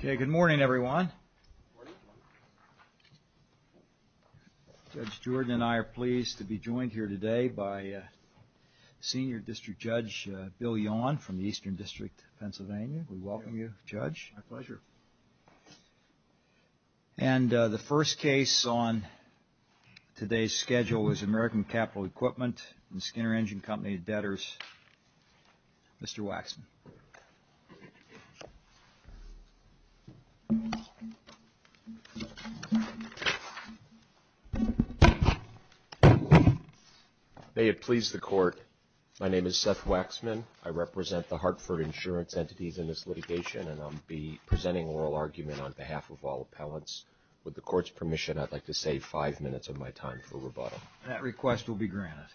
Good morning, everyone. Judge Jordan and I are pleased to be joined here today by Senior District Judge Bill Yawn from the Eastern District, Pennsylvania. We welcome you, Judge. My pleasure. And the first case on today's schedule is American Capital Equipment and Skinner Engine Company debtors. Mr. Waxman. May it please the Court. My name is Seth Waxman. I represent the Hartford insurance entities in this litigation, and I'll be presenting oral argument on behalf of all appellants. With the Court's permission, I'd like to save five minutes of my time for rebuttal. That request will be granted.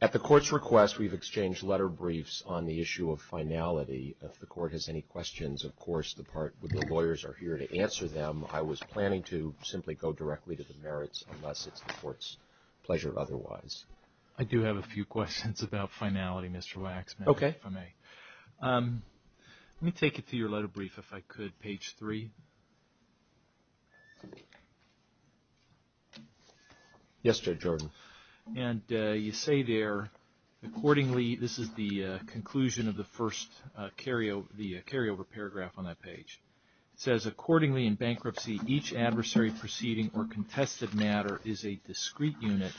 At the Court's request, we've exchanged letter briefs on the issue of finality. If the Court has any questions, of course, the lawyers are here to answer them. I was planning to simply go directly to the merits, unless it's the Court's pleasure otherwise. I do have a few questions about finality, Mr. Waxman, if I may. Let me take it through your letter brief, if I could. Page 3. Yes, Judge Jordan. And you say there, accordingly, this is the conclusion of the first carryover paragraph on that page. It says, accordingly, in bankruptcy, each adversary proceeding or contested matter is a discrete unit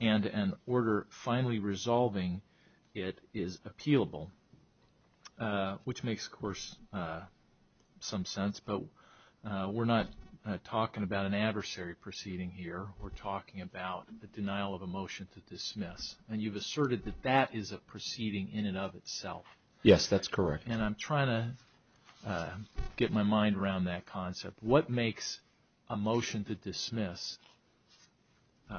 and an order finally resolving it is appealable. Which makes, of course, some sense, but we're not talking about an adversary proceeding here. We're talking about the denial of a motion to dismiss, and you've asserted that that is a proceeding in and of itself. Yes, that's correct. And I'm trying to get my mind around that concept. What makes a motion to dismiss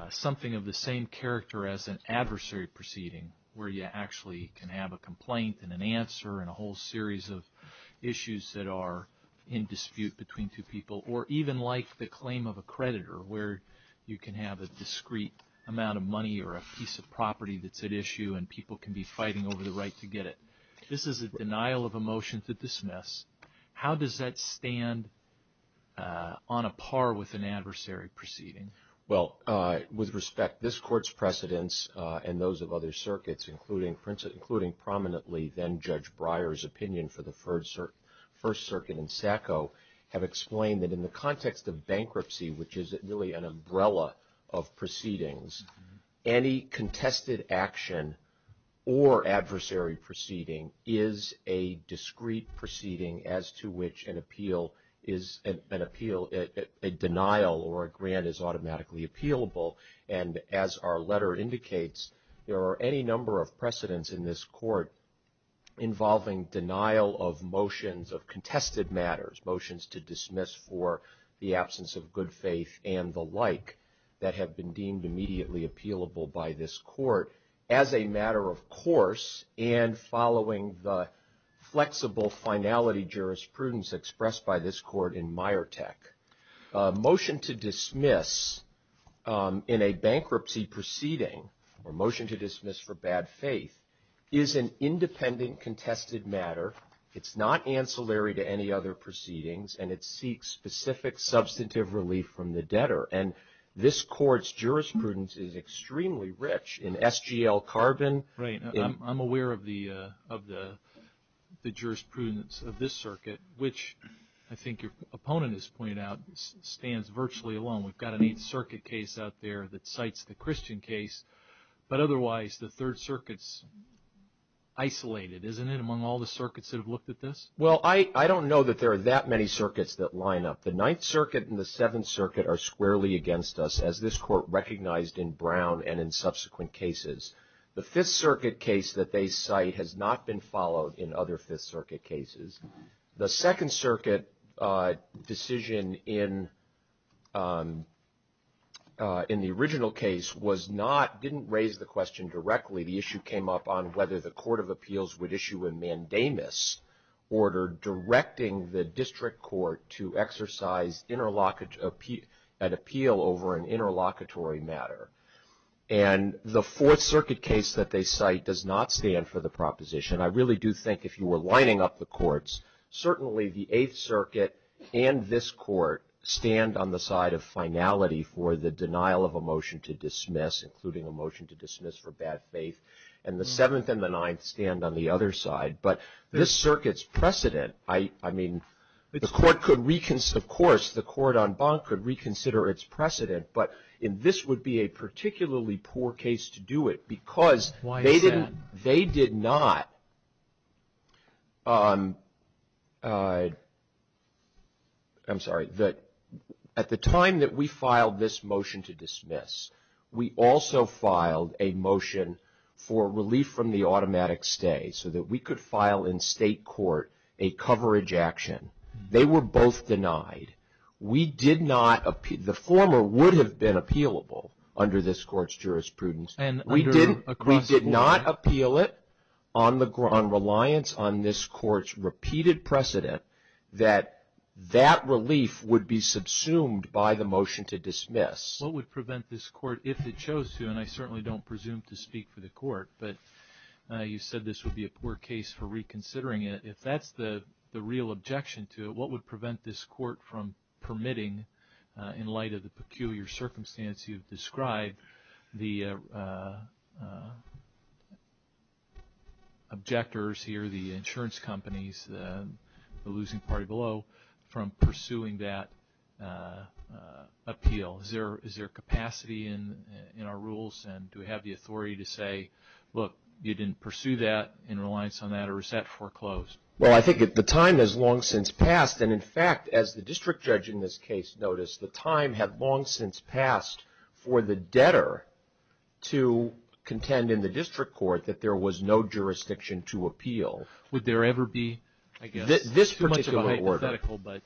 something of the same character as an adversary proceeding, where you actually can have a complaint and an answer and a whole series of issues that are in dispute between two people, or even like the claim of a creditor, where you can have a discrete amount of money or a piece of property that's at issue and people can be fighting over the right to get it? This is a denial of a motion to dismiss. How does that stand on a par with an adversary proceeding? Well, with respect, this Court's precedents and those of other circuits, including prominently then Judge Breyer's opinion for the First Circuit and SACO, have explained that in the context of bankruptcy, which is really an umbrella of proceedings, any contested action or adversary proceeding is a discrete proceeding as to which an appeal, a denial or a grant is automatically appealable. And as our letter indicates, there are any number of precedents in this Court involving denial of motions of contested matters, motions to dismiss for the absence of good faith and the like, that have been deemed immediately appealable by this Court as a matter of course, and following the flexible finality jurisprudence expressed by this Court in Myrtek. A motion to dismiss in a bankruptcy proceeding, or motion to dismiss for bad faith, is an independent contested matter. It's not ancillary to any other proceedings, and it seeks specific substantive relief from the debtor. And this Court's jurisprudence is extremely rich in SGL carbon. Right. I'm aware of the jurisprudence of this circuit, which I think your opponent has pointed out, stands virtually alone. We've got an Eighth Circuit case out there that cites the Christian case, but otherwise the Third Circuit's isolated, isn't it, among all the circuits that have looked at this? Well, I don't know that there are that many circuits that line up. The Ninth Circuit and the Seventh Circuit are squarely against us, as this Court recognized in Brown and in subsequent cases. The Fifth Circuit case that they cite has not been followed in other Fifth Circuit cases. The Second Circuit decision in the original case was not, didn't raise the question directly. The issue came up on whether the Court of Appeals would issue a mandamus order directing the District Court to exercise an appeal over an interlocutory matter. And the Fourth Circuit case that they cite does not stand for the proposition. I really do think if you were lining up the courts, certainly the Eighth Circuit and this Court stand on the side of finality for the denial of a motion to dismiss, including a motion to dismiss for bad faith, and the Seventh and the Ninth stand on the other side. But this circuit's precedent, I mean, the Court could, of course, the court en banc could reconsider its precedent. But this would be a particularly poor case to do it because they did not, I'm sorry, at the time that we filed this motion to dismiss, we also filed a motion for relief from the automatic stay so that we could file in state court a coverage action. They were both denied. We did not, the former would have been appealable under this court's jurisprudence. We did not appeal it on reliance on this court's repeated precedent that that relief would be subsumed by the motion to dismiss. What would prevent this court, if it chose to, and I certainly don't presume to speak for the court, but you said this would be a poor case for reconsidering it. If that's the real objection to it, what would prevent this court from permitting, in light of the peculiar circumstance you've described, the objectors here, the insurance companies, the losing party below, from pursuing that appeal? Is there capacity in our rules and do we have the authority to say, look, you didn't pursue that in reliance on that or is that foreclosed? Well, I think the time has long since passed, and in fact, as the district judge in this case noticed, the time had long since passed for the debtor to contend in the district court that there was no jurisdiction to appeal. Would there ever be, I guess? Too much of a hypothetical, but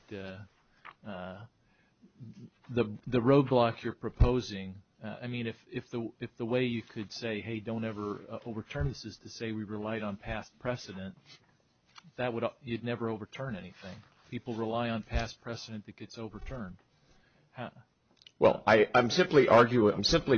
the roadblock you're proposing, I mean, if the way you could say, hey, don't ever overturn this, is to say we relied on past precedent, you'd never overturn anything. People rely on past precedent that gets overturned. Well, I'm simply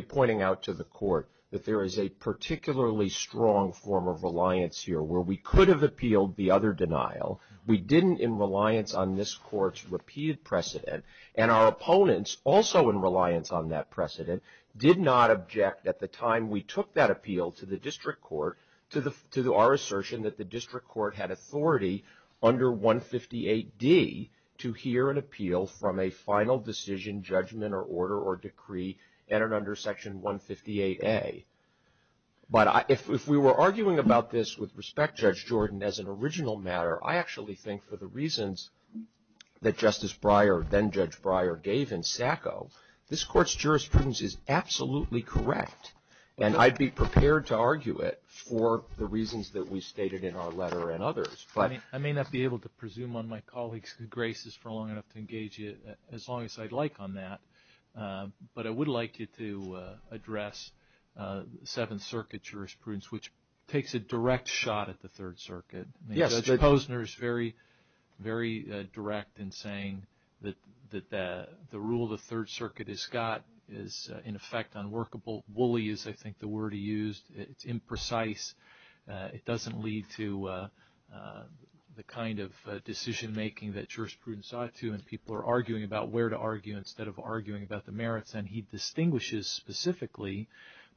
pointing out to the court that there is a particularly strong form of reliance here, where we could have appealed the other denial. We didn't in reliance on this court's repeated precedent, and our opponents, also in reliance on that precedent, did not object at the time we took that appeal to the district court to our assertion that the district court had authority under 158D to hear an appeal from a final decision, judgment, or order, or decree entered under Section 158A. But if we were arguing about this with respect, Judge Jordan, as an original matter, I actually think for the reasons that Justice Breyer, then Judge Breyer, gave in Sacco, this court's jurisprudence is absolutely correct, and I'd be prepared to argue it for the reasons that we stated in our letter and others. I may not be able to presume on my colleagues' graces for long enough to engage you as long as I'd like on that, but I would like you to address Seventh Circuit jurisprudence, which takes a direct shot at the Third Circuit. Judge Posner is very, very direct in saying that the rule the Third Circuit has got is, in effect, unworkable. Woolly is, I think, the word he used. It's imprecise. It doesn't lead to the kind of decision-making that jurisprudence ought to, when people are arguing about where to argue instead of arguing about the merits. And he distinguishes specifically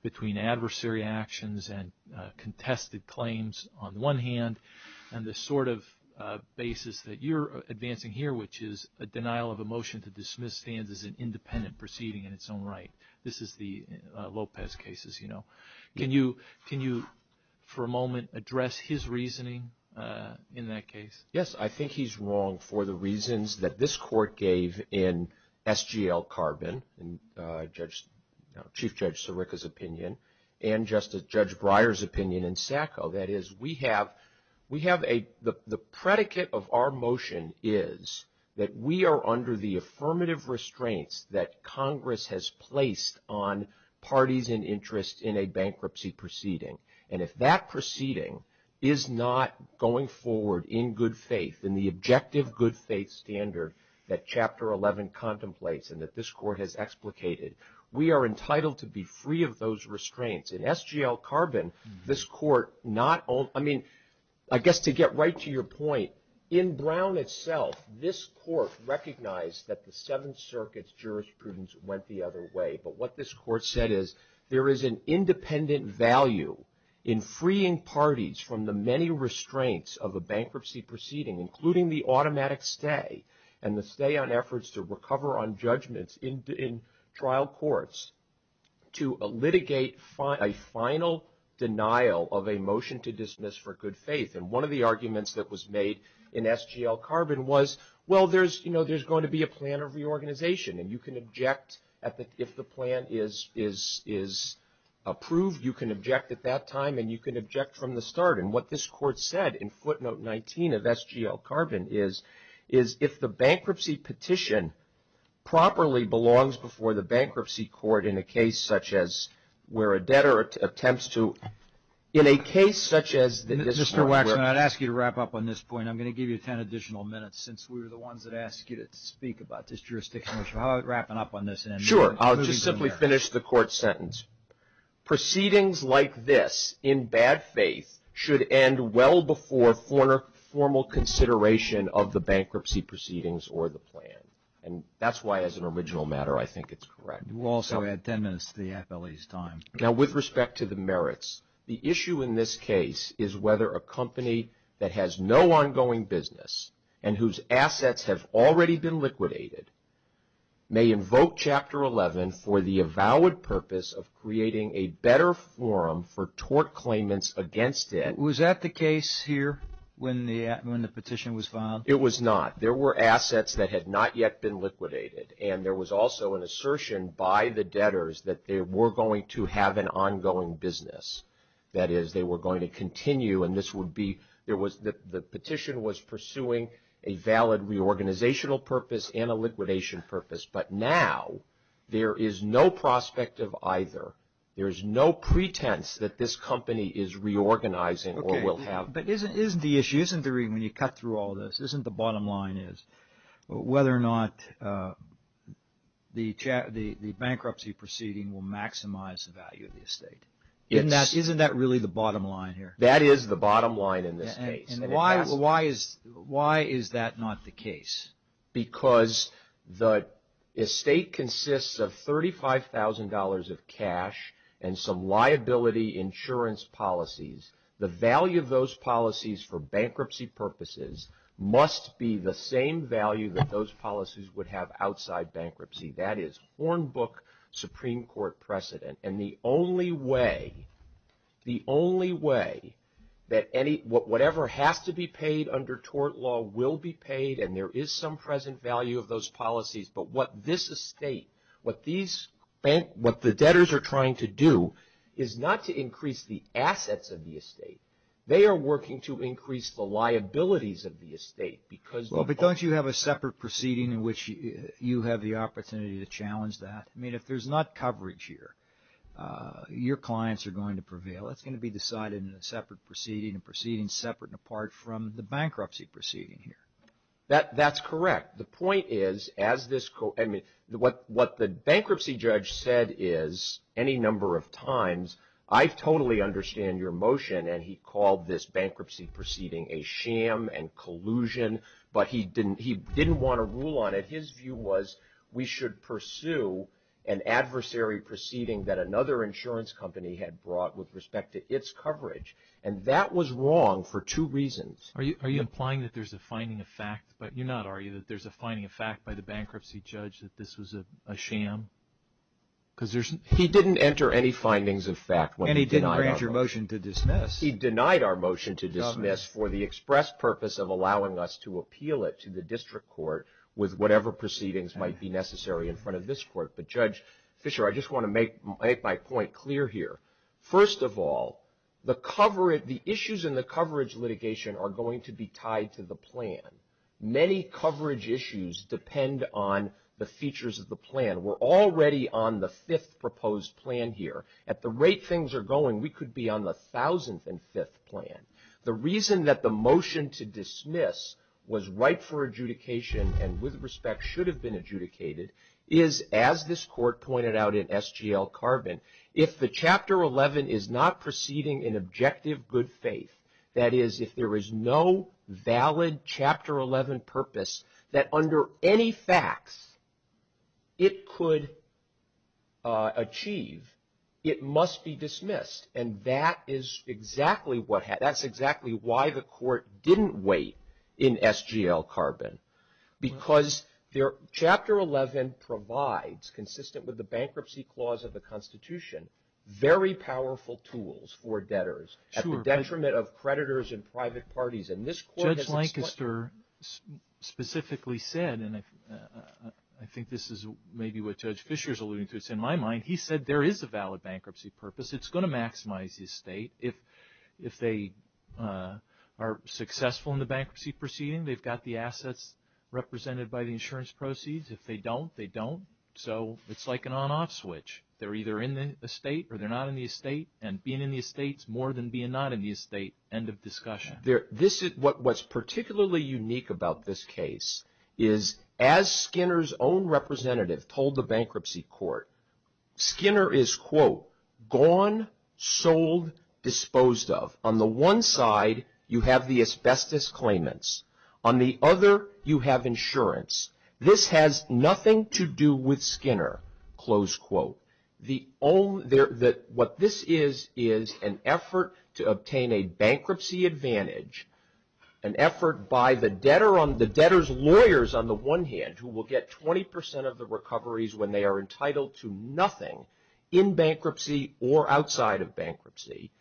between adversary actions and contested claims, on the one hand, and the sort of basis that you're advancing here, which is a denial of a motion to dismiss stands as an independent proceeding in its own right. This is the Lopez case, as you know. Can you, for a moment, address his reasoning in that case? Yes, I think he's wrong for the reasons that this court gave in SGL Carbon, in Chief Judge Sirica's opinion, and Justice Judge Breyer's opinion in Sacco. That is, we have a – the predicate of our motion is that we are under the affirmative restraints that Congress has placed on parties in interest in a bankruptcy proceeding. And if that proceeding is not going forward in good faith, in the objective good faith standard that Chapter 11 contemplates and that this court has explicated, we are entitled to be free of those restraints. In SGL Carbon, this court not – I mean, I guess to get right to your point, in Brown itself, this court recognized that the Seventh Circuit's jurisprudence went the other way. But what this court said is there is an independent value in freeing parties from the many restraints of a bankruptcy proceeding, including the automatic stay and the stay on efforts to recover on judgments in trial courts, to litigate a final denial of a motion to dismiss for good faith. And one of the arguments that was made in SGL Carbon was, well, there's going to be a plan of reorganization. And you can object if the plan is approved. You can object at that time, and you can object from the start. And what this court said in footnote 19 of SGL Carbon is, is if the bankruptcy petition properly belongs before the bankruptcy court in a case such as where a debtor attempts to – in a case such as – Mr. Waxman, I'd ask you to wrap up on this point. And I'm going to give you 10 additional minutes since we were the ones that asked you to speak about this jurisdiction issue. How about wrapping up on this? Sure. I'll just simply finish the court sentence. Proceedings like this in bad faith should end well before formal consideration of the bankruptcy proceedings or the plan. And that's why, as an original matter, I think it's correct. We'll also add 10 minutes to the FLE's time. Now, with respect to the merits, the issue in this case is whether a company that has no ongoing business and whose assets have already been liquidated may invoke Chapter 11 for the avowed purpose of creating a better forum for tort claimants against it. Was that the case here when the petition was filed? It was not. There were assets that had not yet been liquidated. And there was also an assertion by the debtors that they were going to have an ongoing business. That is, they were going to continue. And this would be – there was – the petition was pursuing a valid reorganizational purpose and a liquidation purpose. But now there is no prospect of either. There is no pretense that this company is reorganizing or will have – Okay. But isn't the issue – isn't the – when you cut through all this, isn't the bottom line is whether or not the bankruptcy proceeding will maximize the value of the estate? Isn't that really the bottom line here? That is the bottom line in this case. Why is that not the case? Because the estate consists of $35,000 of cash and some liability insurance policies. The value of those policies for bankruptcy purposes must be the same value that those policies would have outside bankruptcy. That is Hornbook Supreme Court precedent. And the only way – the only way that any – whatever has to be paid under tort law will be paid. And there is some present value of those policies. But what this estate – what these – what the debtors are trying to do is not to increase the assets of the estate. They are working to increase the liabilities of the estate because – Well, but don't you have a separate proceeding in which you have the opportunity to challenge that? I mean, if there's not coverage here, your clients are going to prevail. It's going to be decided in a separate proceeding, a proceeding separate and apart from the bankruptcy proceeding here. That's correct. The point is, as this – I mean, what the bankruptcy judge said is any number of times, I totally understand your motion. And he called this bankruptcy proceeding a sham and collusion. But he didn't want to rule on it. His view was we should pursue an adversary proceeding that another insurance company had brought with respect to its coverage. And that was wrong for two reasons. Are you implying that there's a finding of fact? You're not arguing that there's a finding of fact by the bankruptcy judge that this was a sham? Because there's – He didn't enter any findings of fact when he denied our – And he didn't grant your motion to dismiss. He denied our motion to dismiss for the express purpose of allowing us to appeal it to the district court with whatever proceedings might be necessary in front of this court. But, Judge Fisher, I just want to make my point clear here. First of all, the issues in the coverage litigation are going to be tied to the plan. Many coverage issues depend on the features of the plan. We're already on the fifth proposed plan here. At the rate things are going, we could be on the thousandth and fifth plan. The reason that the motion to dismiss was right for adjudication and with respect should have been adjudicated is, as this court pointed out in SGL Carbon, if the Chapter 11 is not proceeding in objective good faith, that is, if there is no valid Chapter 11 purpose that under any facts it could achieve, it must be dismissed. And that is exactly what – that's exactly why the court didn't wait in SGL Carbon. Because their – Chapter 11 provides, consistent with the bankruptcy clause of the Constitution, very powerful tools for debtors at the detriment of creditors and private parties. And this court – Judge Lancaster specifically said, and I think this is maybe what Judge Fisher is alluding to, it's in my mind, he said there is a valid bankruptcy purpose. It's going to maximize the estate. If they are successful in the bankruptcy proceeding, they've got the assets represented by the insurance proceeds. If they don't, they don't. So it's like an on-off switch. They're either in the estate or they're not in the estate. And being in the estate is more than being not in the estate. End of discussion. What's particularly unique about this case is, as Skinner's own representative told the bankruptcy court, Skinner is, quote, gone, sold, disposed of. On the one side, you have the asbestos claimants. On the other, you have insurance. This has nothing to do with Skinner, close quote. The – what this is is an effort to obtain a bankruptcy advantage, an effort by the debtor on – the debtor's lawyers on the one hand, who will get 20% of the recoveries when they are entitled to nothing in bankruptcy or outside of bankruptcy,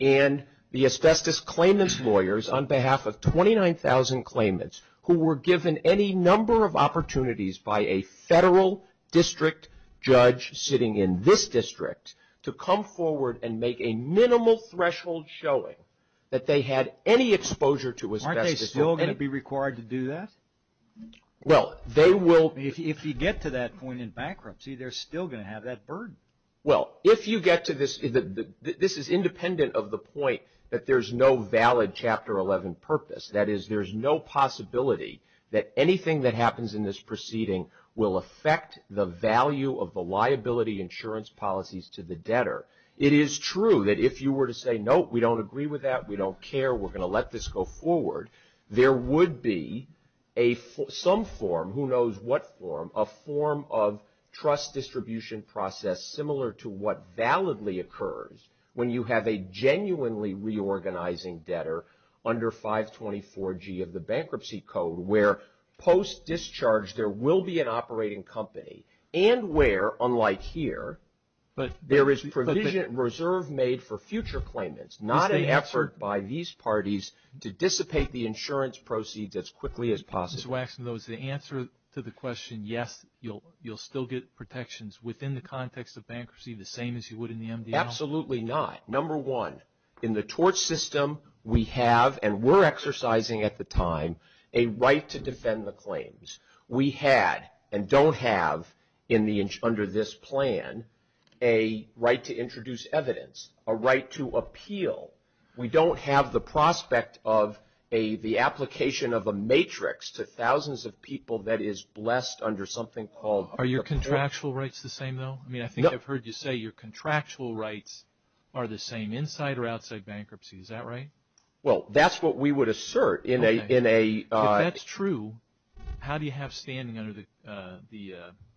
and the asbestos claimants' lawyers on behalf of 29,000 claimants who were given any number of opportunities by a federal district judge sitting in this district to come forward and make a minimal threshold showing that they had any exposure to asbestos. Aren't they still going to be required to do that? Well, they will – If you get to that point in bankruptcy, they're still going to have that burden. Well, if you get to this – this is independent of the point that there's no valid Chapter 11 purpose. That is, there's no possibility that anything that happens in this proceeding will affect the value of the liability insurance policies to the debtor. It is true that if you were to say, no, we don't agree with that, we don't care, we're going to let this go forward, there would be some form, who knows what form, a form of trust distribution process similar to what validly occurs when you have a genuinely reorganizing debtor under 524G of the Bankruptcy Code, where post-discharge there will be an operating company and where, unlike here, there is provision and reserve made for future claimants, not an effort by these parties to dissipate the insurance proceeds as quickly as possible. Mr. Waxman, though, is the answer to the question, yes, you'll still get protections within the context of bankruptcy the same as you would in the MDL? Absolutely not. Number one, in the tort system, we have, and were exercising at the time, a right to defend the claims. We had and don't have under this plan a right to introduce evidence, a right to appeal. We don't have the prospect of the application of a matrix to thousands of people that is blessed under something called. Are your contractual rights the same, though? I mean, I think I've heard you say your contractual rights are the same inside or outside bankruptcy. Is that right? Well, that's what we would assert in a... If that's true, how do you have standing under the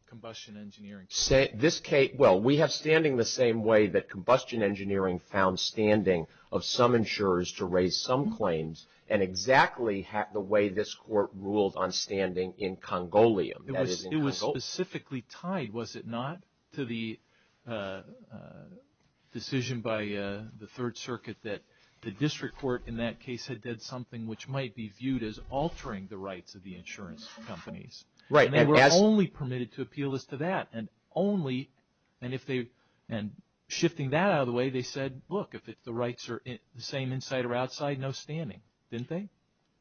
Combustion Engineering Code? Well, we have standing the same way that Combustion Engineering found standing of some insurers to raise some claims and exactly the way this court ruled on standing in Congolium. It was specifically tied, was it not, to the decision by the Third Circuit that the district court in that case had did something which might be viewed as altering the rights of the insurance companies. Right. And they were only permitted to appeal as to that and only... And if they... And shifting that out of the way, they said, look, if the rights are the same inside or outside, no standing, didn't they?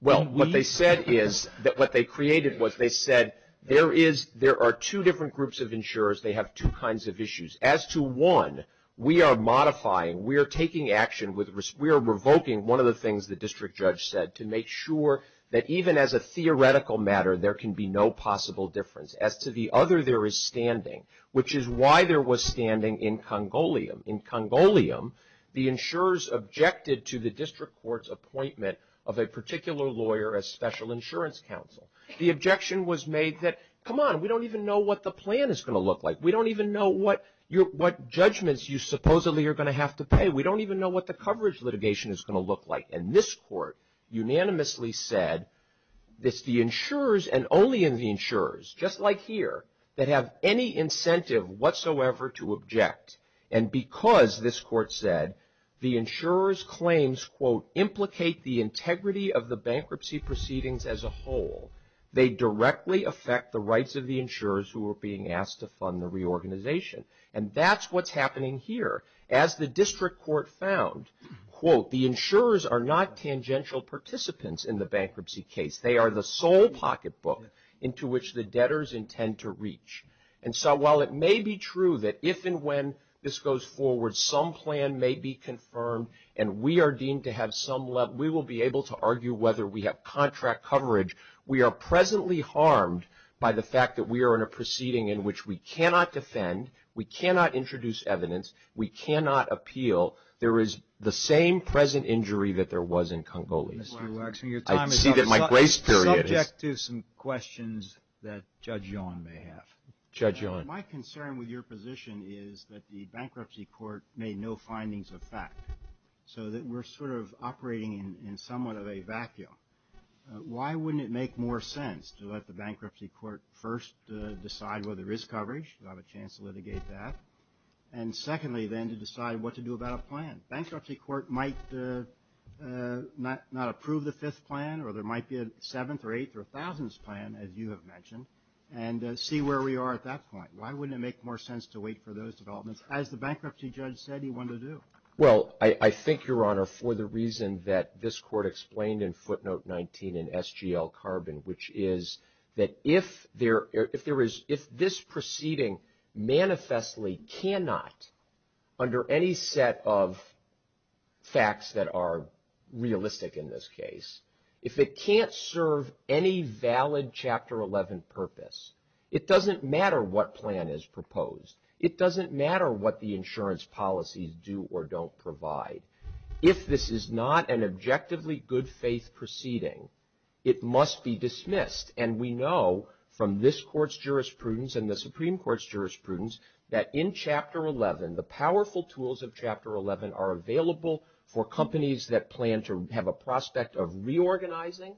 Well, what they said is that what they created was they said there is... There are two different groups of insurers. They have two kinds of issues. As to one, we are modifying. We are taking action. We are revoking one of the things the district judge said to make sure that even as a theoretical matter, there can be no possible difference. As to the other, there is standing, which is why there was standing in Congolium. In Congolium, the insurers objected to the district court's appointment of a particular lawyer as special insurance counsel. The objection was made that, come on, we don't even know what the plan is going to look like. We don't even know what judgments you supposedly are going to have to pay. We don't even know what the coverage litigation is going to look like. And this court unanimously said it's the insurers and only in the insurers, just like here, that have any incentive whatsoever to object. And because, this court said, the insurers' claims, quote, implicate the integrity of the bankruptcy proceedings as a whole, they directly affect the rights of the insurers who are being asked to fund the reorganization. And that's what's happening here. As the district court found, quote, the insurers are not tangential participants in the bankruptcy case. They are the sole pocketbook into which the debtors intend to reach. And so while it may be true that if and when this goes forward, some plan may be confirmed, and we are deemed to have some level, we will be able to argue whether we have contract coverage, we are presently harmed by the fact that we are in a proceeding in which we cannot defend, we cannot introduce evidence, we cannot appeal. There is the same present injury that there was in Congolese. Mr. Waxman, your time is up. I see that my grace period is. Subject to some questions that Judge Yon may have. Judge Yon. My concern with your position is that the bankruptcy court made no findings of fact. So that we're sort of operating in somewhat of a vacuum. Why wouldn't it make more sense to let the bankruptcy court first decide whether there is coverage, to have a chance to litigate that, and secondly then to decide what to do about a plan? Bankruptcy court might not approve the fifth plan or there might be a seventh or eighth or a thousandth plan, as you have mentioned, and see where we are at that point. Why wouldn't it make more sense to wait for those developments, as the bankruptcy judge said he wanted to do? Well, I think, Your Honor, for the reason that this court explained in footnote 19 in SGL Carbon, which is that if this proceeding manifestly cannot, under any set of facts that are realistic in this case, if it can't serve any valid Chapter 11 purpose, it doesn't matter what plan is proposed. It doesn't matter what the insurance policies do or don't provide. If this is not an objectively good faith proceeding, it must be dismissed. And we know from this court's jurisprudence and the Supreme Court's jurisprudence that in Chapter 11, the powerful tools of Chapter 11 are available for companies that plan to have a prospect of reorganizing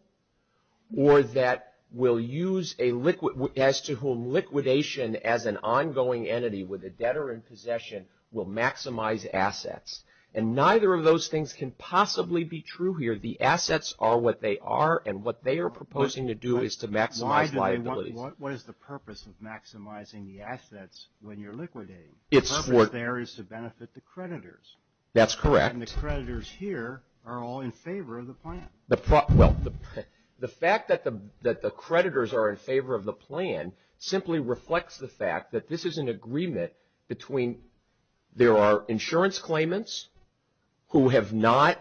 or that will use a liquidation as an ongoing entity with a debtor in possession will maximize assets. And neither of those things can possibly be true here. The assets are what they are, and what they are proposing to do is to maximize liabilities. What is the purpose of maximizing the assets when you're liquidating? The purpose there is to benefit the creditors. That's correct. And the creditors here are all in favor of the plan. Well, the fact that the creditors are in favor of the plan simply reflects the fact that this is an agreement between there are insurance claimants who have not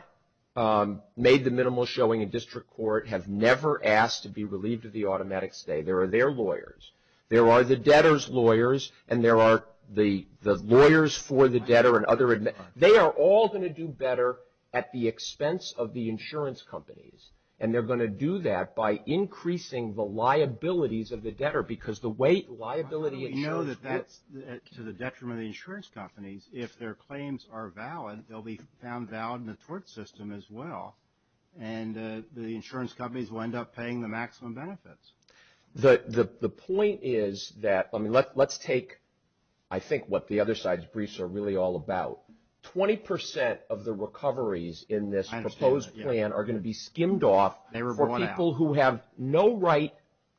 made the minimal showing in district court, have never asked to be relieved of the automatic stay. There are their lawyers. There are the debtor's lawyers, and there are the lawyers for the debtor and other. They are all going to do better at the expense of the insurance companies, and they're going to do that by increasing the liabilities of the debtor because the way liability insurance. I know that that's to the detriment of the insurance companies. If their claims are valid, they'll be found valid in the tort system as well, and the insurance companies will end up paying the maximum benefits. The point is that, I mean, let's take I think what the other side's briefs are really all about. 20% of the recoveries in this proposed plan are going to be skimmed off for people who have no right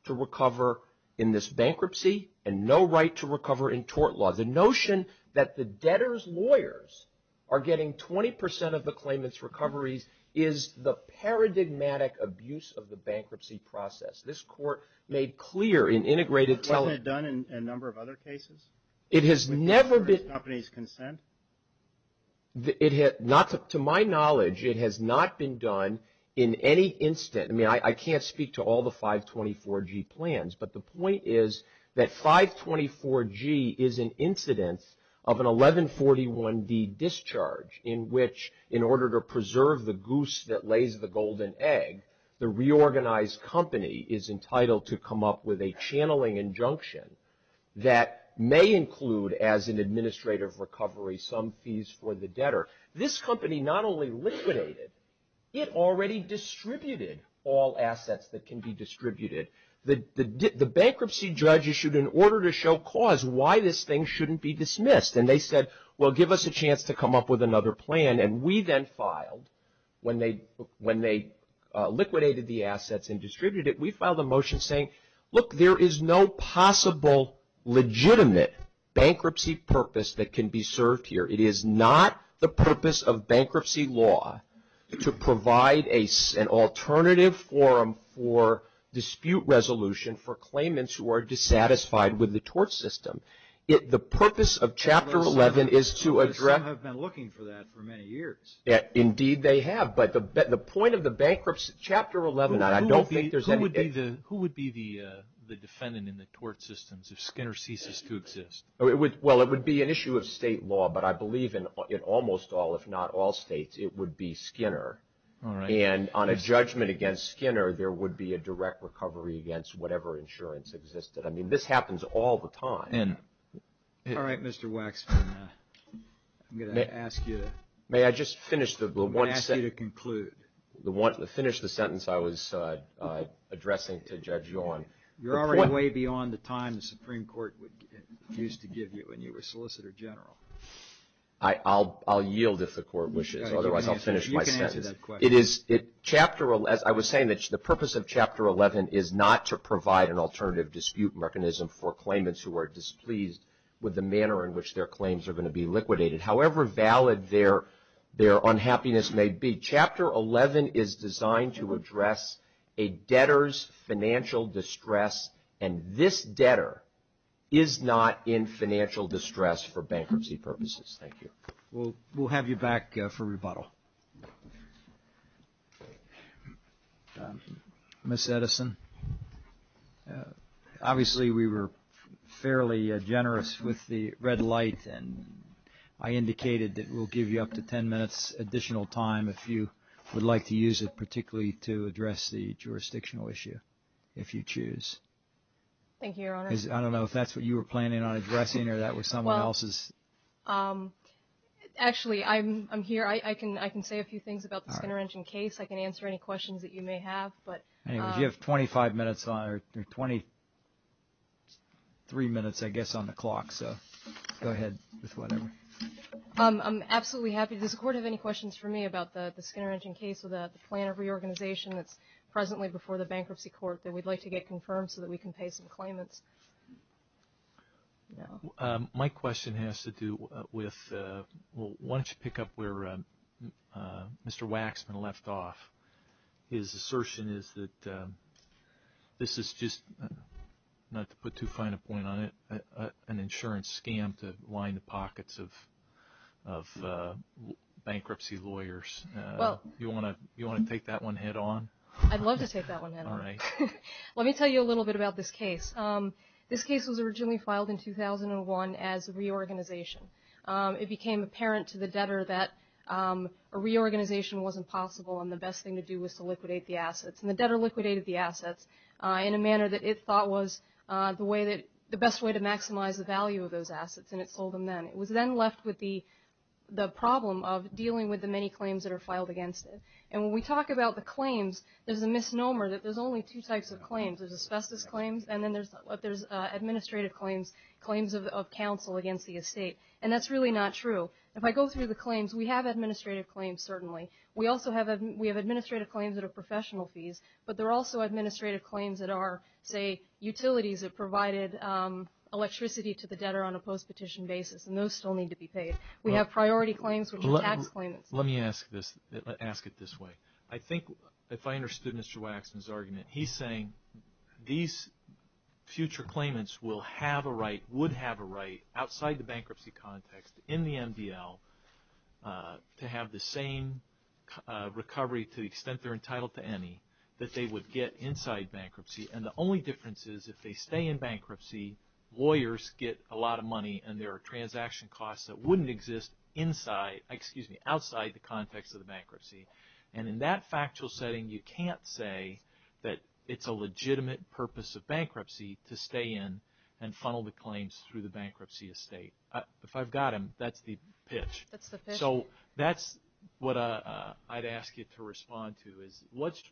to recover in this bankruptcy and no right to recover in tort laws. The notion that the debtor's lawyers are getting 20% of the claimant's recoveries is the paradigmatic abuse of the bankruptcy process. This court made clear in integrated telling. Wasn't it done in a number of other cases? It has never been. With the insurance companies' consent? To my knowledge, it has not been done in any instance. I mean, I can't speak to all the 524G plans, but the point is that 524G is an incidence of an 1141D discharge in which, in order to preserve the goose that lays the golden egg, the reorganized company is entitled to come up with a channeling injunction that may include, as an administrative recovery, some fees for the debtor. This company not only liquidated, it already distributed all assets that can be distributed. The bankruptcy judge issued an order to show cause why this thing shouldn't be dismissed, and they said, well, give us a chance to come up with another plan. And we then filed, when they liquidated the assets and distributed it, we filed a motion saying, look, there is no possible legitimate bankruptcy purpose that can be served here. It is not the purpose of bankruptcy law to provide an alternative forum for dispute resolution for claimants who are dissatisfied with the tort system. The purpose of Chapter 11 is to address. Some have been looking for that for many years. Indeed, they have. But the point of the bankruptcy, Chapter 11, I don't think there's any. Who would be the defendant in the tort systems if Skinner ceases to exist? Well, it would be an issue of state law, but I believe in almost all, if not all states, it would be Skinner. And on a judgment against Skinner, there would be a direct recovery against whatever insurance existed. I mean, this happens all the time. All right, Mr. Waxman, I'm going to ask you to conclude. May I just finish the sentence I was addressing to Judge Yawn? You're already way beyond the time the Supreme Court used to give you when you were Solicitor General. I'll yield if the Court wishes. Otherwise, I'll finish my sentence. You can answer that question. I was saying that the purpose of Chapter 11 is not to provide an alternative dispute mechanism for claimants who are displeased with the manner in which their claims are going to be liquidated, however valid their unhappiness may be. Chapter 11 is designed to address a debtor's financial distress, and this debtor is not in financial distress for bankruptcy purposes. Thank you. We'll have you back for rebuttal. Ms. Edison, obviously we were fairly generous with the red light, and I indicated that we'll give you up to 10 minutes additional time if you would like to use it, particularly to address the jurisdictional issue, if you choose. Thank you, Your Honor. I don't know if that's what you were planning on addressing or that was someone else's. Actually, I'm here. I can say a few things about the Skinner Injun case. I can answer any questions that you may have. You have 23 minutes, I guess, on the clock, so go ahead with whatever. I'm absolutely happy. Does the Court have any questions for me about the Skinner Injun case or the plan of reorganization that's presently before the Bankruptcy Court that we'd like to get confirmed so that we can pay some claimants? My question has to do with why don't you pick up where Mr. Waxman left off. His assertion is that this is just, not to put too fine a point on it, an insurance scam to line the pockets of bankruptcy lawyers. You want to take that one head on? I'd love to take that one head on. All right. Let me tell you a little bit about this case. This case was originally filed in 2001 as a reorganization. It became apparent to the debtor that a reorganization wasn't possible and the best thing to do was to liquidate the assets. The debtor liquidated the assets in a manner that it thought was the best way to maximize the value of those assets, and it sold them then. It was then left with the problem of dealing with the many claims that are filed against it. When we talk about the claims, there's a misnomer that there's only two types of claims. There's asbestos claims and then there's administrative claims, claims of counsel against the estate, and that's really not true. If I go through the claims, we have administrative claims, certainly. We have administrative claims that are professional fees, but there are also administrative claims that are, say, utilities that provided electricity to the debtor on a post-petition basis, and those still need to be paid. We have priority claims, which are tax claimants. Let me ask it this way. I think if I understood Mr. Waxman's argument, he's saying these future claimants will have a right, would have a right, outside the bankruptcy context in the MDL to have the same recovery to the extent they're entitled to any that they would get inside bankruptcy, and the only difference is if they stay in bankruptcy, lawyers get a lot of money and there are transaction costs that wouldn't exist outside the context of the bankruptcy, and in that factual setting you can't say that it's a legitimate purpose of bankruptcy to stay in and funnel the claims through the bankruptcy estate. If I've got him, that's the pitch. That's the pitch. So that's what I'd ask you to respond to is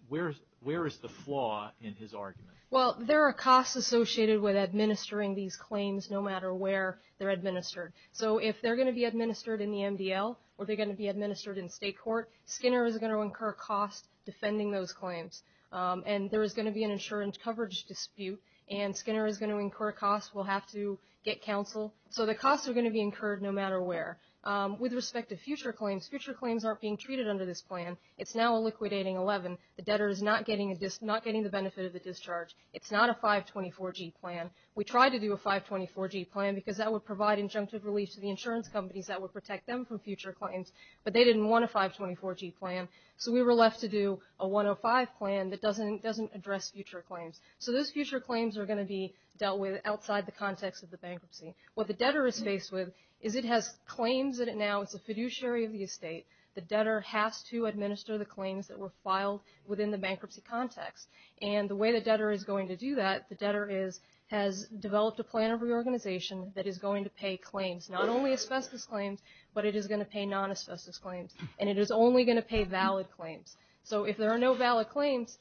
where is the flaw in his argument? Well, there are costs associated with administering these claims no matter where they're administered. So if they're going to be administered in the MDL or they're going to be administered in state court, Skinner is going to incur costs defending those claims, and there is going to be an insurance coverage dispute, and Skinner is going to incur costs. We'll have to get counsel. So the costs are going to be incurred no matter where. With respect to future claims, future claims aren't being treated under this plan. It's now a liquidating 11. The debtor is not getting the benefit of the discharge. It's not a 524G plan. We tried to do a 524G plan because that would provide injunctive relief to the insurance companies that would protect them from future claims, but they didn't want a 524G plan, so we were left to do a 105 plan that doesn't address future claims. So those future claims are going to be dealt with outside the context of the bankruptcy. What the debtor is faced with is it has claims that it now is a fiduciary of the estate. The debtor has to administer the claims that were filed within the bankruptcy context, and the way the debtor is going to do that, the debtor has developed a plan of reorganization that is going to pay claims, not only asbestos claims, but it is going to pay non-asbestos claims, and it is only going to pay valid claims. So if there are no valid claims,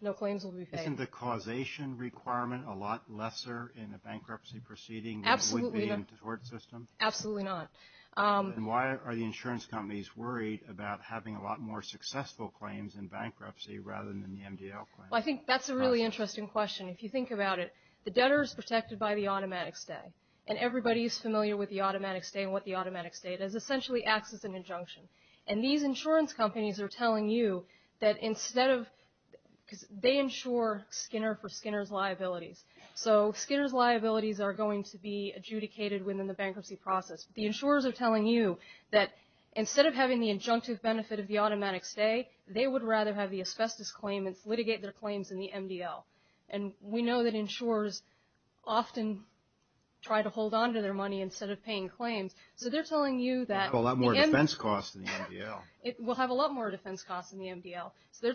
no claims will be paid. Isn't the causation requirement a lot lesser in a bankruptcy proceeding than it would be in a tort system? Absolutely not. And why are the insurance companies worried about having a lot more successful claims in bankruptcy rather than the MDL claim? Well, I think that's a really interesting question. If you think about it, the debtor is protected by the automatic stay, and everybody is familiar with the automatic stay and what the automatic stay is. It essentially acts as an injunction. And these insurance companies are telling you that instead of they insure Skinner for Skinner's liabilities. So Skinner's liabilities are going to be adjudicated within the bankruptcy process. The insurers are telling you that instead of having the injunctive benefit of the automatic stay, they would rather have the asbestos claimants litigate their claims in the MDL. And we know that insurers often try to hold on to their money instead of paying claims. So they're telling you that the MDL. There's a lot more defense costs in the MDL. We'll have a lot more defense costs in the MDL. So they're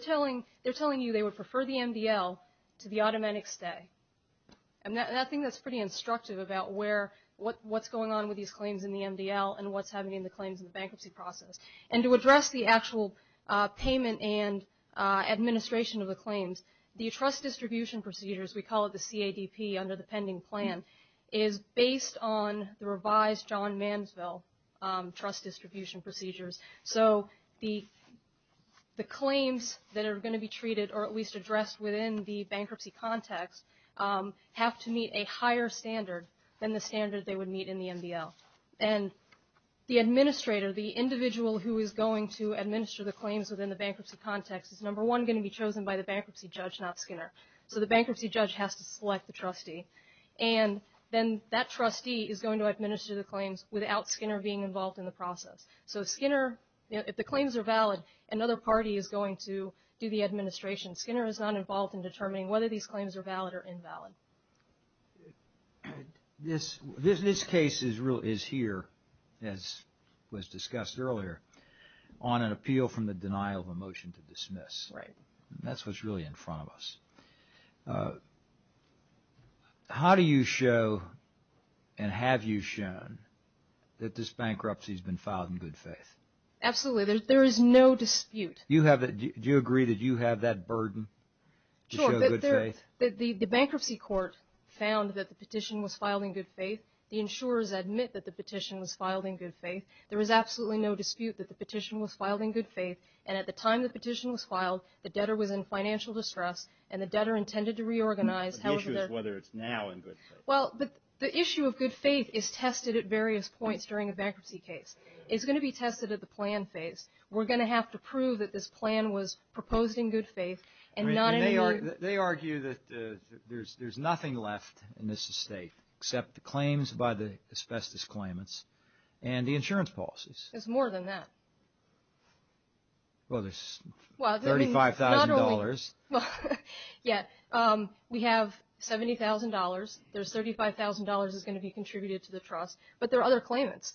telling you they would prefer the MDL to the automatic stay. And I think that's pretty instructive about what's going on with these claims in the MDL and what's happening in the claims in the bankruptcy process. And to address the actual payment and administration of the claims, the trust distribution procedures, we call it the CADP under the pending plan, is based on the revised John Mansville trust distribution procedures. So the claims that are going to be treated, or at least addressed within the bankruptcy context, have to meet a higher standard than the standard they would meet in the MDL. And the administrator, the individual who is going to administer the claims within the bankruptcy context, is number one going to be chosen by the bankruptcy judge, not Skinner. So the bankruptcy judge has to select the trustee. And then that trustee is going to administer the claims without Skinner being involved in the process. So Skinner, if the claims are valid, another party is going to do the administration. Skinner is not involved in determining whether these claims are valid or invalid. This case is here, as was discussed earlier, on an appeal from the denial of a motion to dismiss. Right. That's what's really in front of us. How do you show and have you shown that this bankruptcy has been filed in good faith? Absolutely. There is no dispute. Do you agree that you have that burden to show good faith? The bankruptcy court found that the petition was filed in good faith. The insurers admit that the petition was filed in good faith. There is absolutely no dispute that the petition was filed in good faith. And at the time the petition was filed, the debtor was in financial distress, and the debtor intended to reorganize. The issue is whether it's now in good faith. Well, the issue of good faith is tested at various points during a bankruptcy case. It's going to be tested at the plan phase. We're going to have to prove that this plan was proposed in good faith. They argue that there's nothing left in this estate except the claims by the asbestos claimants and the insurance policies. There's more than that. Well, there's $35,000. Yeah. We have $70,000. There's $35,000 that's going to be contributed to the trust, but there are other claimants.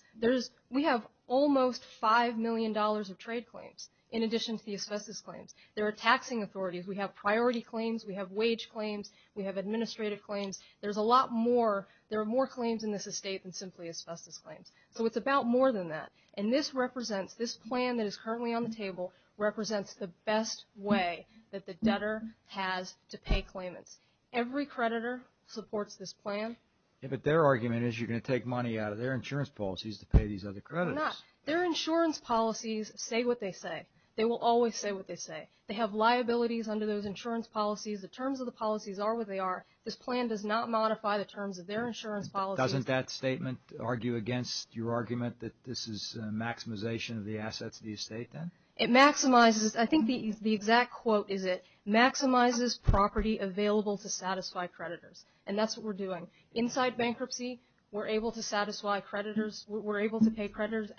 We have almost $5 million of trade claims in addition to the asbestos claims. There are taxing authorities. We have priority claims. We have wage claims. We have administrative claims. There's a lot more. There are more claims in this estate than simply asbestos claims. So it's about more than that. And this represents, this plan that is currently on the table, represents the best way that the debtor has to pay claimants. Every creditor supports this plan. Yeah, but their argument is you're going to take money out of their insurance policies to pay these other creditors. They're not. Their insurance policies say what they say. They will always say what they say. They have liabilities under those insurance policies. The terms of the policies are what they are. This plan does not modify the terms of their insurance policies. Doesn't that statement argue against your argument that this is maximization of the assets of the estate then? It maximizes. I think the exact quote is it maximizes property available to satisfy creditors, and that's what we're doing. Inside bankruptcy, we're able to satisfy creditors. We're able to pay creditors.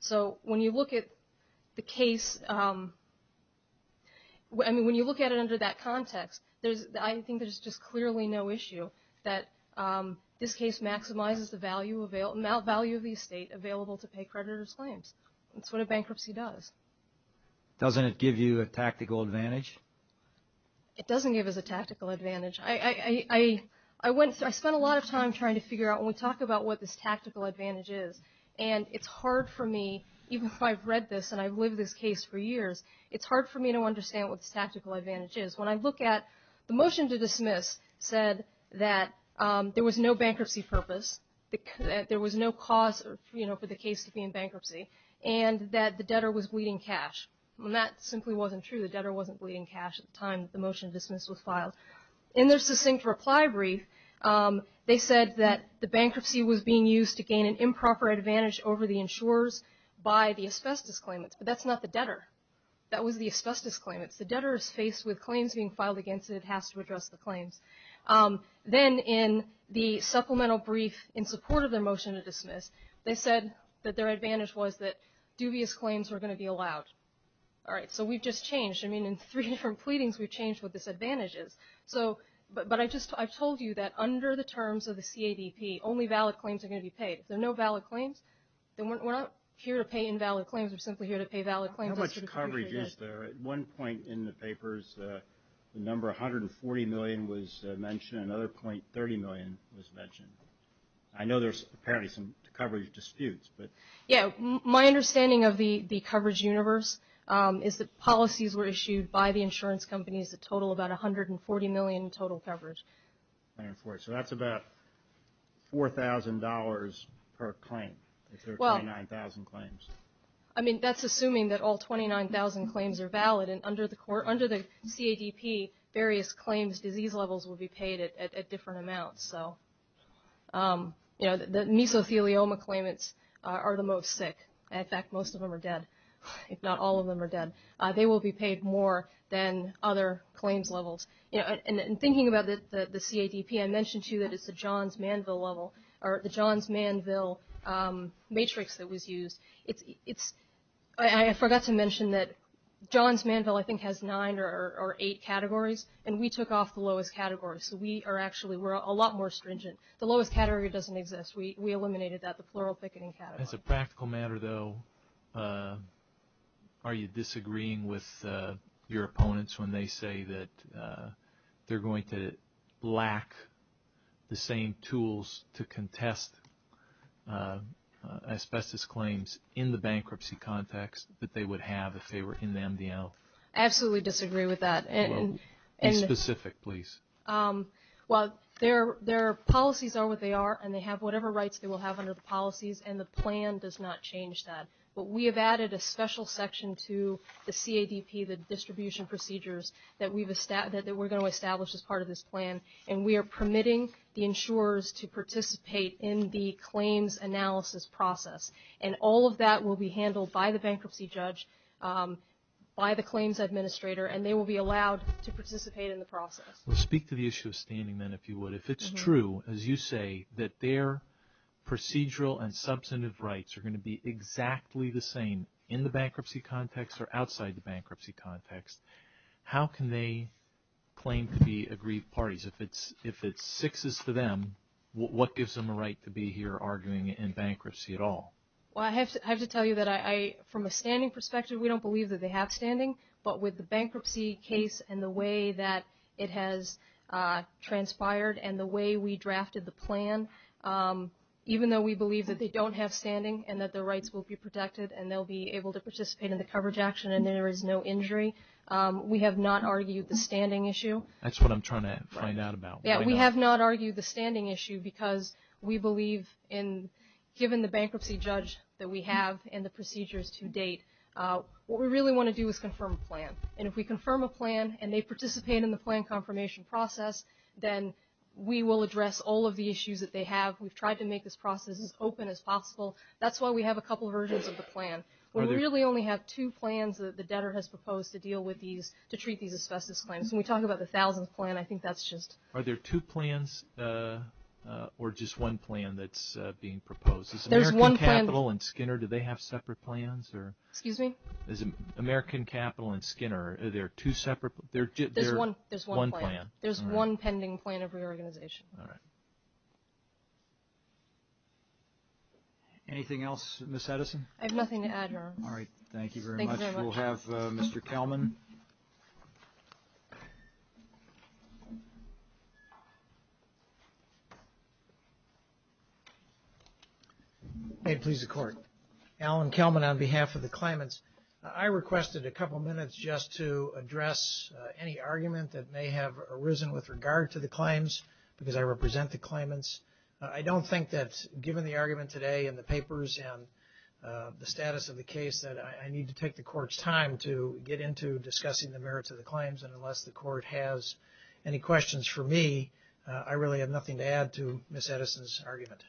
So when you look at the case, I mean, when you look at it under that context, I think there's just clearly no issue that this case maximizes the value of the estate available to pay creditors' claims. That's what a bankruptcy does. Doesn't it give you a tactical advantage? It doesn't give us a tactical advantage. I spent a lot of time trying to figure out when we talk about what this tactical advantage is, and it's hard for me, even if I've read this and I've lived this case for years, it's hard for me to understand what this tactical advantage is. When I look at the motion to dismiss said that there was no bankruptcy purpose, that there was no cause for the case to be in bankruptcy, and that the debtor was bleeding cash. Well, that simply wasn't true. The debtor wasn't bleeding cash at the time the motion to dismiss was filed. In their succinct reply brief, they said that the bankruptcy was being used to gain an improper advantage over the insurers by the asbestos claimants, but that's not the debtor. That was the asbestos claimants. The debtor is faced with claims being filed against it and has to address the claims. Then in the supplemental brief in support of their motion to dismiss, they said that their advantage was that dubious claims were going to be allowed. All right, so we've just changed. I mean, in three different pleadings, we've changed what this advantage is. But I've told you that under the terms of the CADP, only valid claims are going to be paid. If there are no valid claims, then we're not here to pay invalid claims. We're simply here to pay valid claims. How much coverage is there? At one point in the papers, the number 140 million was mentioned. At another point, 30 million was mentioned. I know there's apparently some coverage disputes. My understanding of the coverage universe is that policies were issued by the insurance companies that total about 140 million in total coverage. 140, so that's about $4,000 per claim if there are 29,000 claims. I mean, that's assuming that all 29,000 claims are valid. Under the CADP, various claims' disease levels will be paid at different amounts. The mesothelioma claimants are the most sick. In fact, most of them are dead, if not all of them are dead. They will be paid more than other claims levels. In thinking about the CADP, I mentioned to you that it's the Johns-Manville level, or the Johns-Manville matrix that was used. I forgot to mention that Johns-Manville, I think, has nine or eight categories, and we took off the lowest category. So we are actually a lot more stringent. The lowest category doesn't exist. We eliminated that, the plural picketing category. As a practical matter, though, are you disagreeing with your opponents when they say that they're going to lack the same tools to contest asbestos claims in the bankruptcy context that they would have if they were in the MDL? I absolutely disagree with that. Be specific, please. Well, their policies are what they are, and they have whatever rights they will have under the policies, and the plan does not change that. But we have added a special section to the CADP, the distribution procedures, that we're going to establish as part of this plan, and we are permitting the insurers to participate in the claims analysis process. And all of that will be handled by the bankruptcy judge, by the claims administrator, and they will be allowed to participate in the process. Well, speak to the issue of standing, then, if you would. If it's true, as you say, that their procedural and substantive rights are going to be exactly the same in the bankruptcy context or outside the bankruptcy context, how can they claim to be agreed parties? If it's sixes for them, what gives them a right to be here arguing in bankruptcy at all? Well, I have to tell you that from a standing perspective, we don't believe that they have standing, but with the bankruptcy case and the way that it has transpired and the way we drafted the plan, even though we believe that they don't have standing and that their rights will be protected and they'll be able to participate in the coverage action and there is no injury, we have not argued the standing issue. That's what I'm trying to find out about. Yeah, we have not argued the standing issue because we believe, given the bankruptcy judge that we have and the procedures to date, what we really want to do is confirm a plan. And if we confirm a plan and they participate in the plan confirmation process, then we will address all of the issues that they have. We've tried to make this process as open as possible. That's why we have a couple of versions of the plan. We really only have two plans that the debtor has proposed to deal with these, to treat these asbestos claims. When we talk about the thousands plan, I think that's just... There's one plan. American Capital and Skinner, do they have separate plans? Excuse me? American Capital and Skinner, are there two separate plans? There's one plan. There's one pending plan of reorganization. All right. Anything else, Ms. Edison? I have nothing to add, Your Honor. All right, thank you very much. Thank you very much. We'll have Mr. Kelman. May it please the Court. Alan Kelman on behalf of the claimants. I requested a couple minutes just to address any argument that may have arisen with regard to the claims, because I represent the claimants. I don't think that, given the argument today and the papers and the status of the case, that I need to take the Court's time to get into discussing the merits of the claims. And unless the Court has any questions for me, I really have nothing to add to Ms. Edison's argument.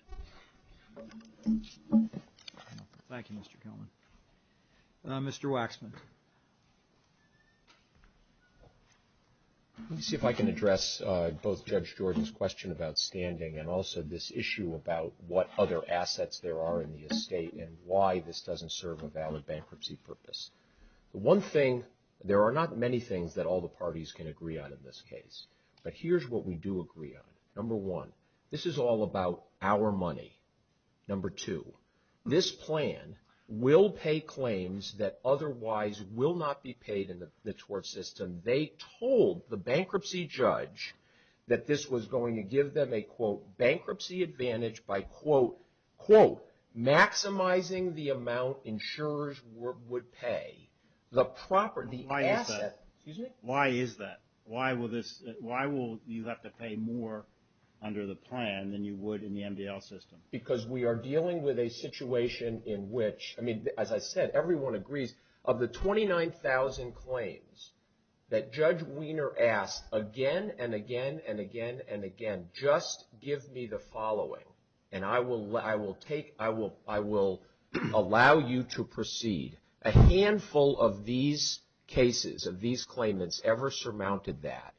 Thank you, Mr. Kelman. Mr. Waxman. Let me see if I can address both Judge Jordan's question about standing and also this issue about what other assets there are in the estate and why this doesn't serve a valid bankruptcy purpose. One thing, there are not many things that all the parties can agree on in this case. But here's what we do agree on. Number one, this is all about our money. Number two, this plan will pay claims that otherwise will not be paid in the tort system. They told the bankruptcy judge that this was going to give them a, quote, maximizing the amount insurers would pay. The property, the asset. Why is that? Why will you have to pay more under the plan than you would in the MDL system? Because we are dealing with a situation in which, I mean, as I said, everyone agrees, of the 29,000 claims that Judge Wiener asked again and again and again and again, just give me the following and I will allow you to proceed. A handful of these cases, of these claimants, ever surmounted that.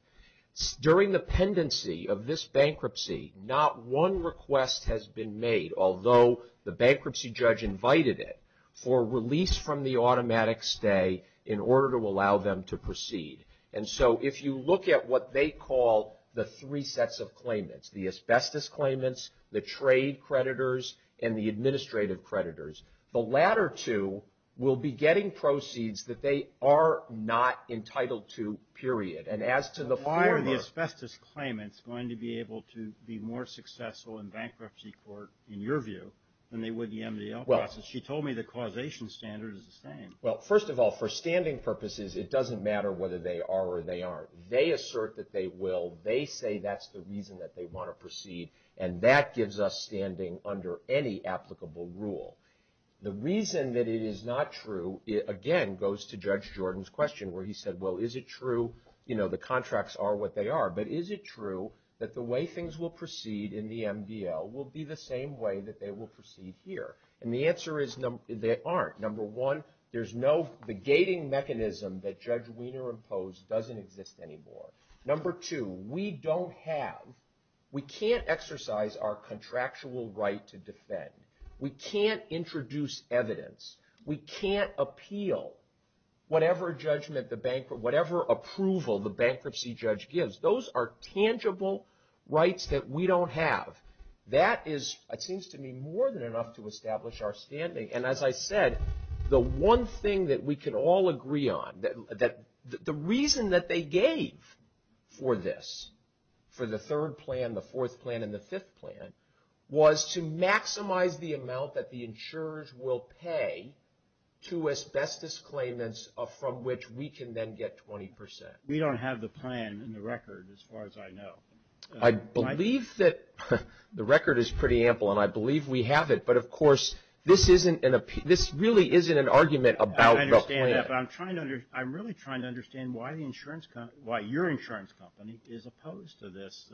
During the pendency of this bankruptcy, not one request has been made, although the bankruptcy judge invited it, for release from the automatic stay in order to allow them to proceed. And so if you look at what they call the three sets of claimants, the asbestos claimants, the trade creditors, and the administrative creditors, the latter two will be getting proceeds that they are not entitled to, period. And as to the former. Why are the asbestos claimants going to be able to be more successful in bankruptcy court, in your view, than they would in the MDL process? She told me the causation standard is the same. Well, first of all, for standing purposes, it doesn't matter whether they are or they aren't. They assert that they will. They say that's the reason that they want to proceed, and that gives us standing under any applicable rule. The reason that it is not true, again, goes to Judge Jordan's question where he said, well, is it true, you know, the contracts are what they are, but is it true that the way things will proceed in the MDL will be the same way that they will proceed here? And the answer is they aren't. Number one, there's no begating mechanism that Judge Wiener imposed doesn't exist anymore. Number two, we don't have, we can't exercise our contractual right to defend. We can't introduce evidence. We can't appeal whatever judgment, whatever approval the bankruptcy judge gives. Those are tangible rights that we don't have. That is, it seems to me, more than enough to establish our standing. And as I said, the one thing that we can all agree on, that the reason that they gave for this, for the third plan, the fourth plan, and the fifth plan, was to maximize the amount that the insurers will pay to asbestos claimants from which we can then get 20%. We don't have the plan in the record as far as I know. I believe that the record is pretty ample, and I believe we have it. But, of course, this really isn't an argument about the plan. I understand that, but I'm really trying to understand why your insurance company is opposed to this.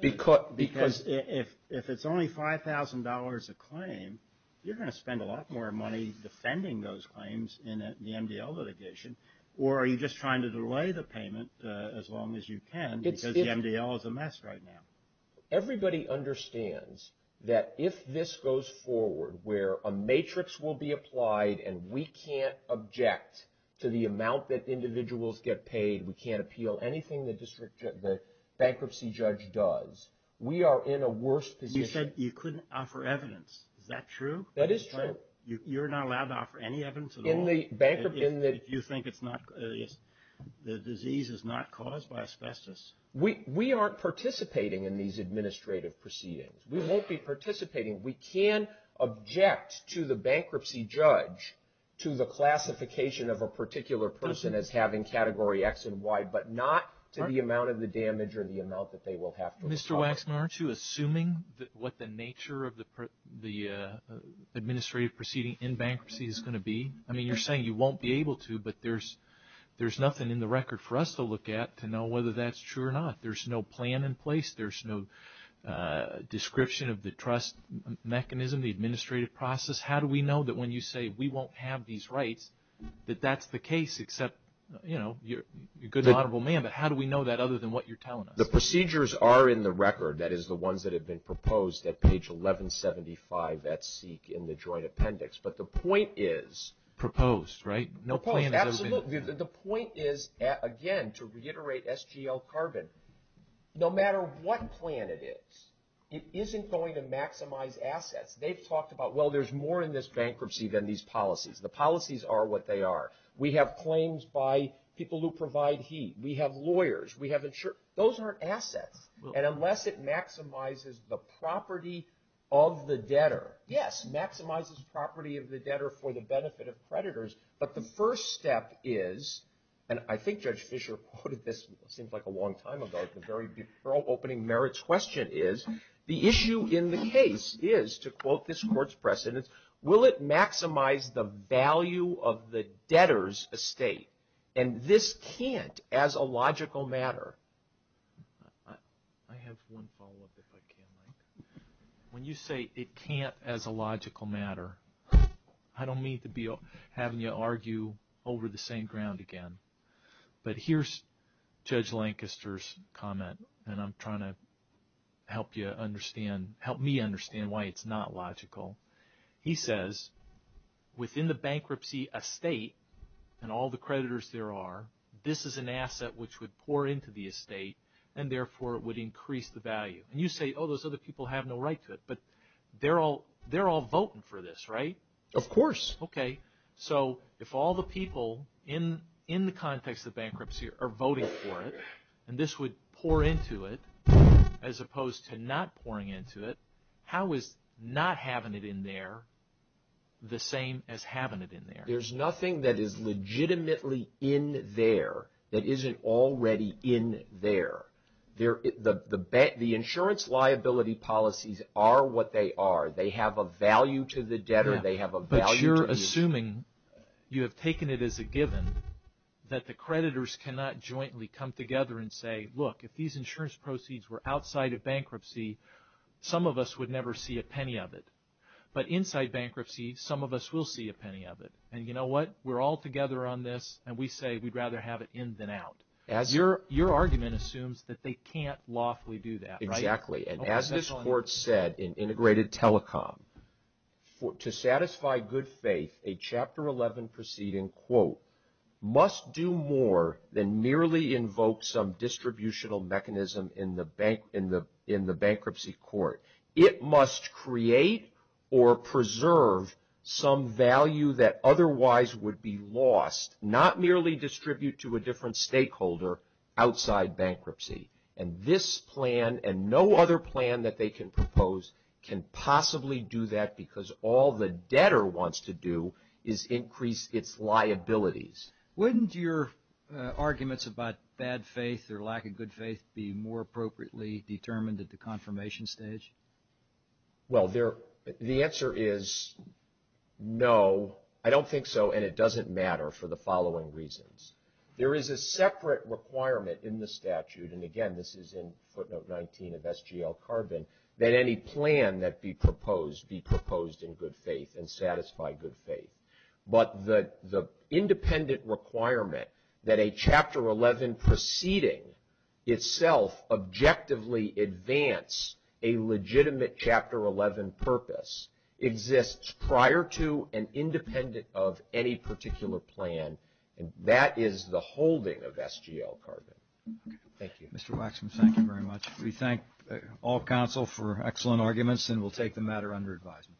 Because if it's only $5,000 a claim, you're going to spend a lot more money defending those claims in the MDL litigation. Or are you just trying to delay the payment as long as you can because the MDL is a mess right now? Everybody understands that if this goes forward, where a matrix will be applied and we can't object to the amount that individuals get paid, we can't appeal anything the bankruptcy judge does, we are in a worse position. You said you couldn't offer evidence. Is that true? That is true. You're not allowed to offer any evidence at all? In the bankruptcy. If you think it's not, the disease is not caused by asbestos? We aren't participating in these administrative proceedings. We won't be participating. We can object to the bankruptcy judge to the classification of a particular person as having Category X and Y, but not to the amount of the damage or the amount that they will have to apply. Mr. Waxman, aren't you assuming what the nature of the administrative proceeding in bankruptcy is going to be? I mean, you're saying you won't be able to, but there's nothing in the record for us to look at to know whether that's true or not. There's no plan in place. There's no description of the trust mechanism, the administrative process. How do we know that when you say we won't have these rights that that's the case, except, you know, you're a good, honorable man, but how do we know that other than what you're telling us? The procedures are in the record. That is, the ones that have been proposed at page 1175 at SEEK in the joint appendix, but the point is… Absolutely. The point is, again, to reiterate SGL Carbon, no matter what plan it is, it isn't going to maximize assets. They've talked about, well, there's more in this bankruptcy than these policies. The policies are what they are. We have claims by people who provide heat. We have lawyers. We have insurers. Those aren't assets, and unless it maximizes the property of the debtor, yes, maximizes property of the debtor for the benefit of creditors, but the first step is, and I think Judge Fischer quoted this, it seems like a long time ago, the very before opening merits question is, the issue in the case is, to quote this court's precedence, will it maximize the value of the debtor's estate? And this can't as a logical matter. I have one follow-up, if I can, Mike. When you say it can't as a logical matter, I don't mean to be having you argue over the same ground again, but here's Judge Lancaster's comment, and I'm trying to help you understand, help me understand why it's not logical. He says, within the bankruptcy estate and all the creditors there are, this is an asset which would pour into the estate and, therefore, it would increase the value. And you say, oh, those other people have no right to it, but they're all voting for this, right? Of course. Okay, so if all the people in the context of bankruptcy are voting for it, and this would pour into it as opposed to not pouring into it, how is not having it in there the same as having it in there? There's nothing that is legitimately in there that isn't already in there. The insurance liability policies are what they are. They have a value to the debtor. They have a value to you. But you're assuming, you have taken it as a given, that the creditors cannot jointly come together and say, look, if these insurance proceeds were outside of bankruptcy, some of us would never see a penny of it. But inside bankruptcy, some of us will see a penny of it. And you know what? We're all together on this, and we say we'd rather have it in than out. Your argument assumes that they can't lawfully do that, right? Exactly. And as this Court said in Integrated Telecom, to satisfy good faith, a Chapter 11 proceeding, quote, must do more than merely invoke some distributional mechanism in the bankruptcy court. It must create or preserve some value that otherwise would be lost, not merely distribute to a different stakeholder outside bankruptcy. And this plan and no other plan that they can propose can possibly do that, because all the debtor wants to do is increase its liabilities. Wouldn't your arguments about bad faith or lack of good faith be more appropriately determined at the confirmation stage? Well, the answer is no. I don't think so, and it doesn't matter for the following reasons. There is a separate requirement in the statute, and again, this is in footnote 19 of SGL Carbon, that any plan that be proposed be proposed in good faith and satisfy good faith. But the independent requirement that a Chapter 11 proceeding itself objectively advance a legitimate Chapter 11 purpose exists prior to and independent of any particular plan, and that is the holding of SGL Carbon. Thank you. Mr. Waxman, thank you very much. We thank all counsel for excellent arguments, and we'll take the matter under advisement.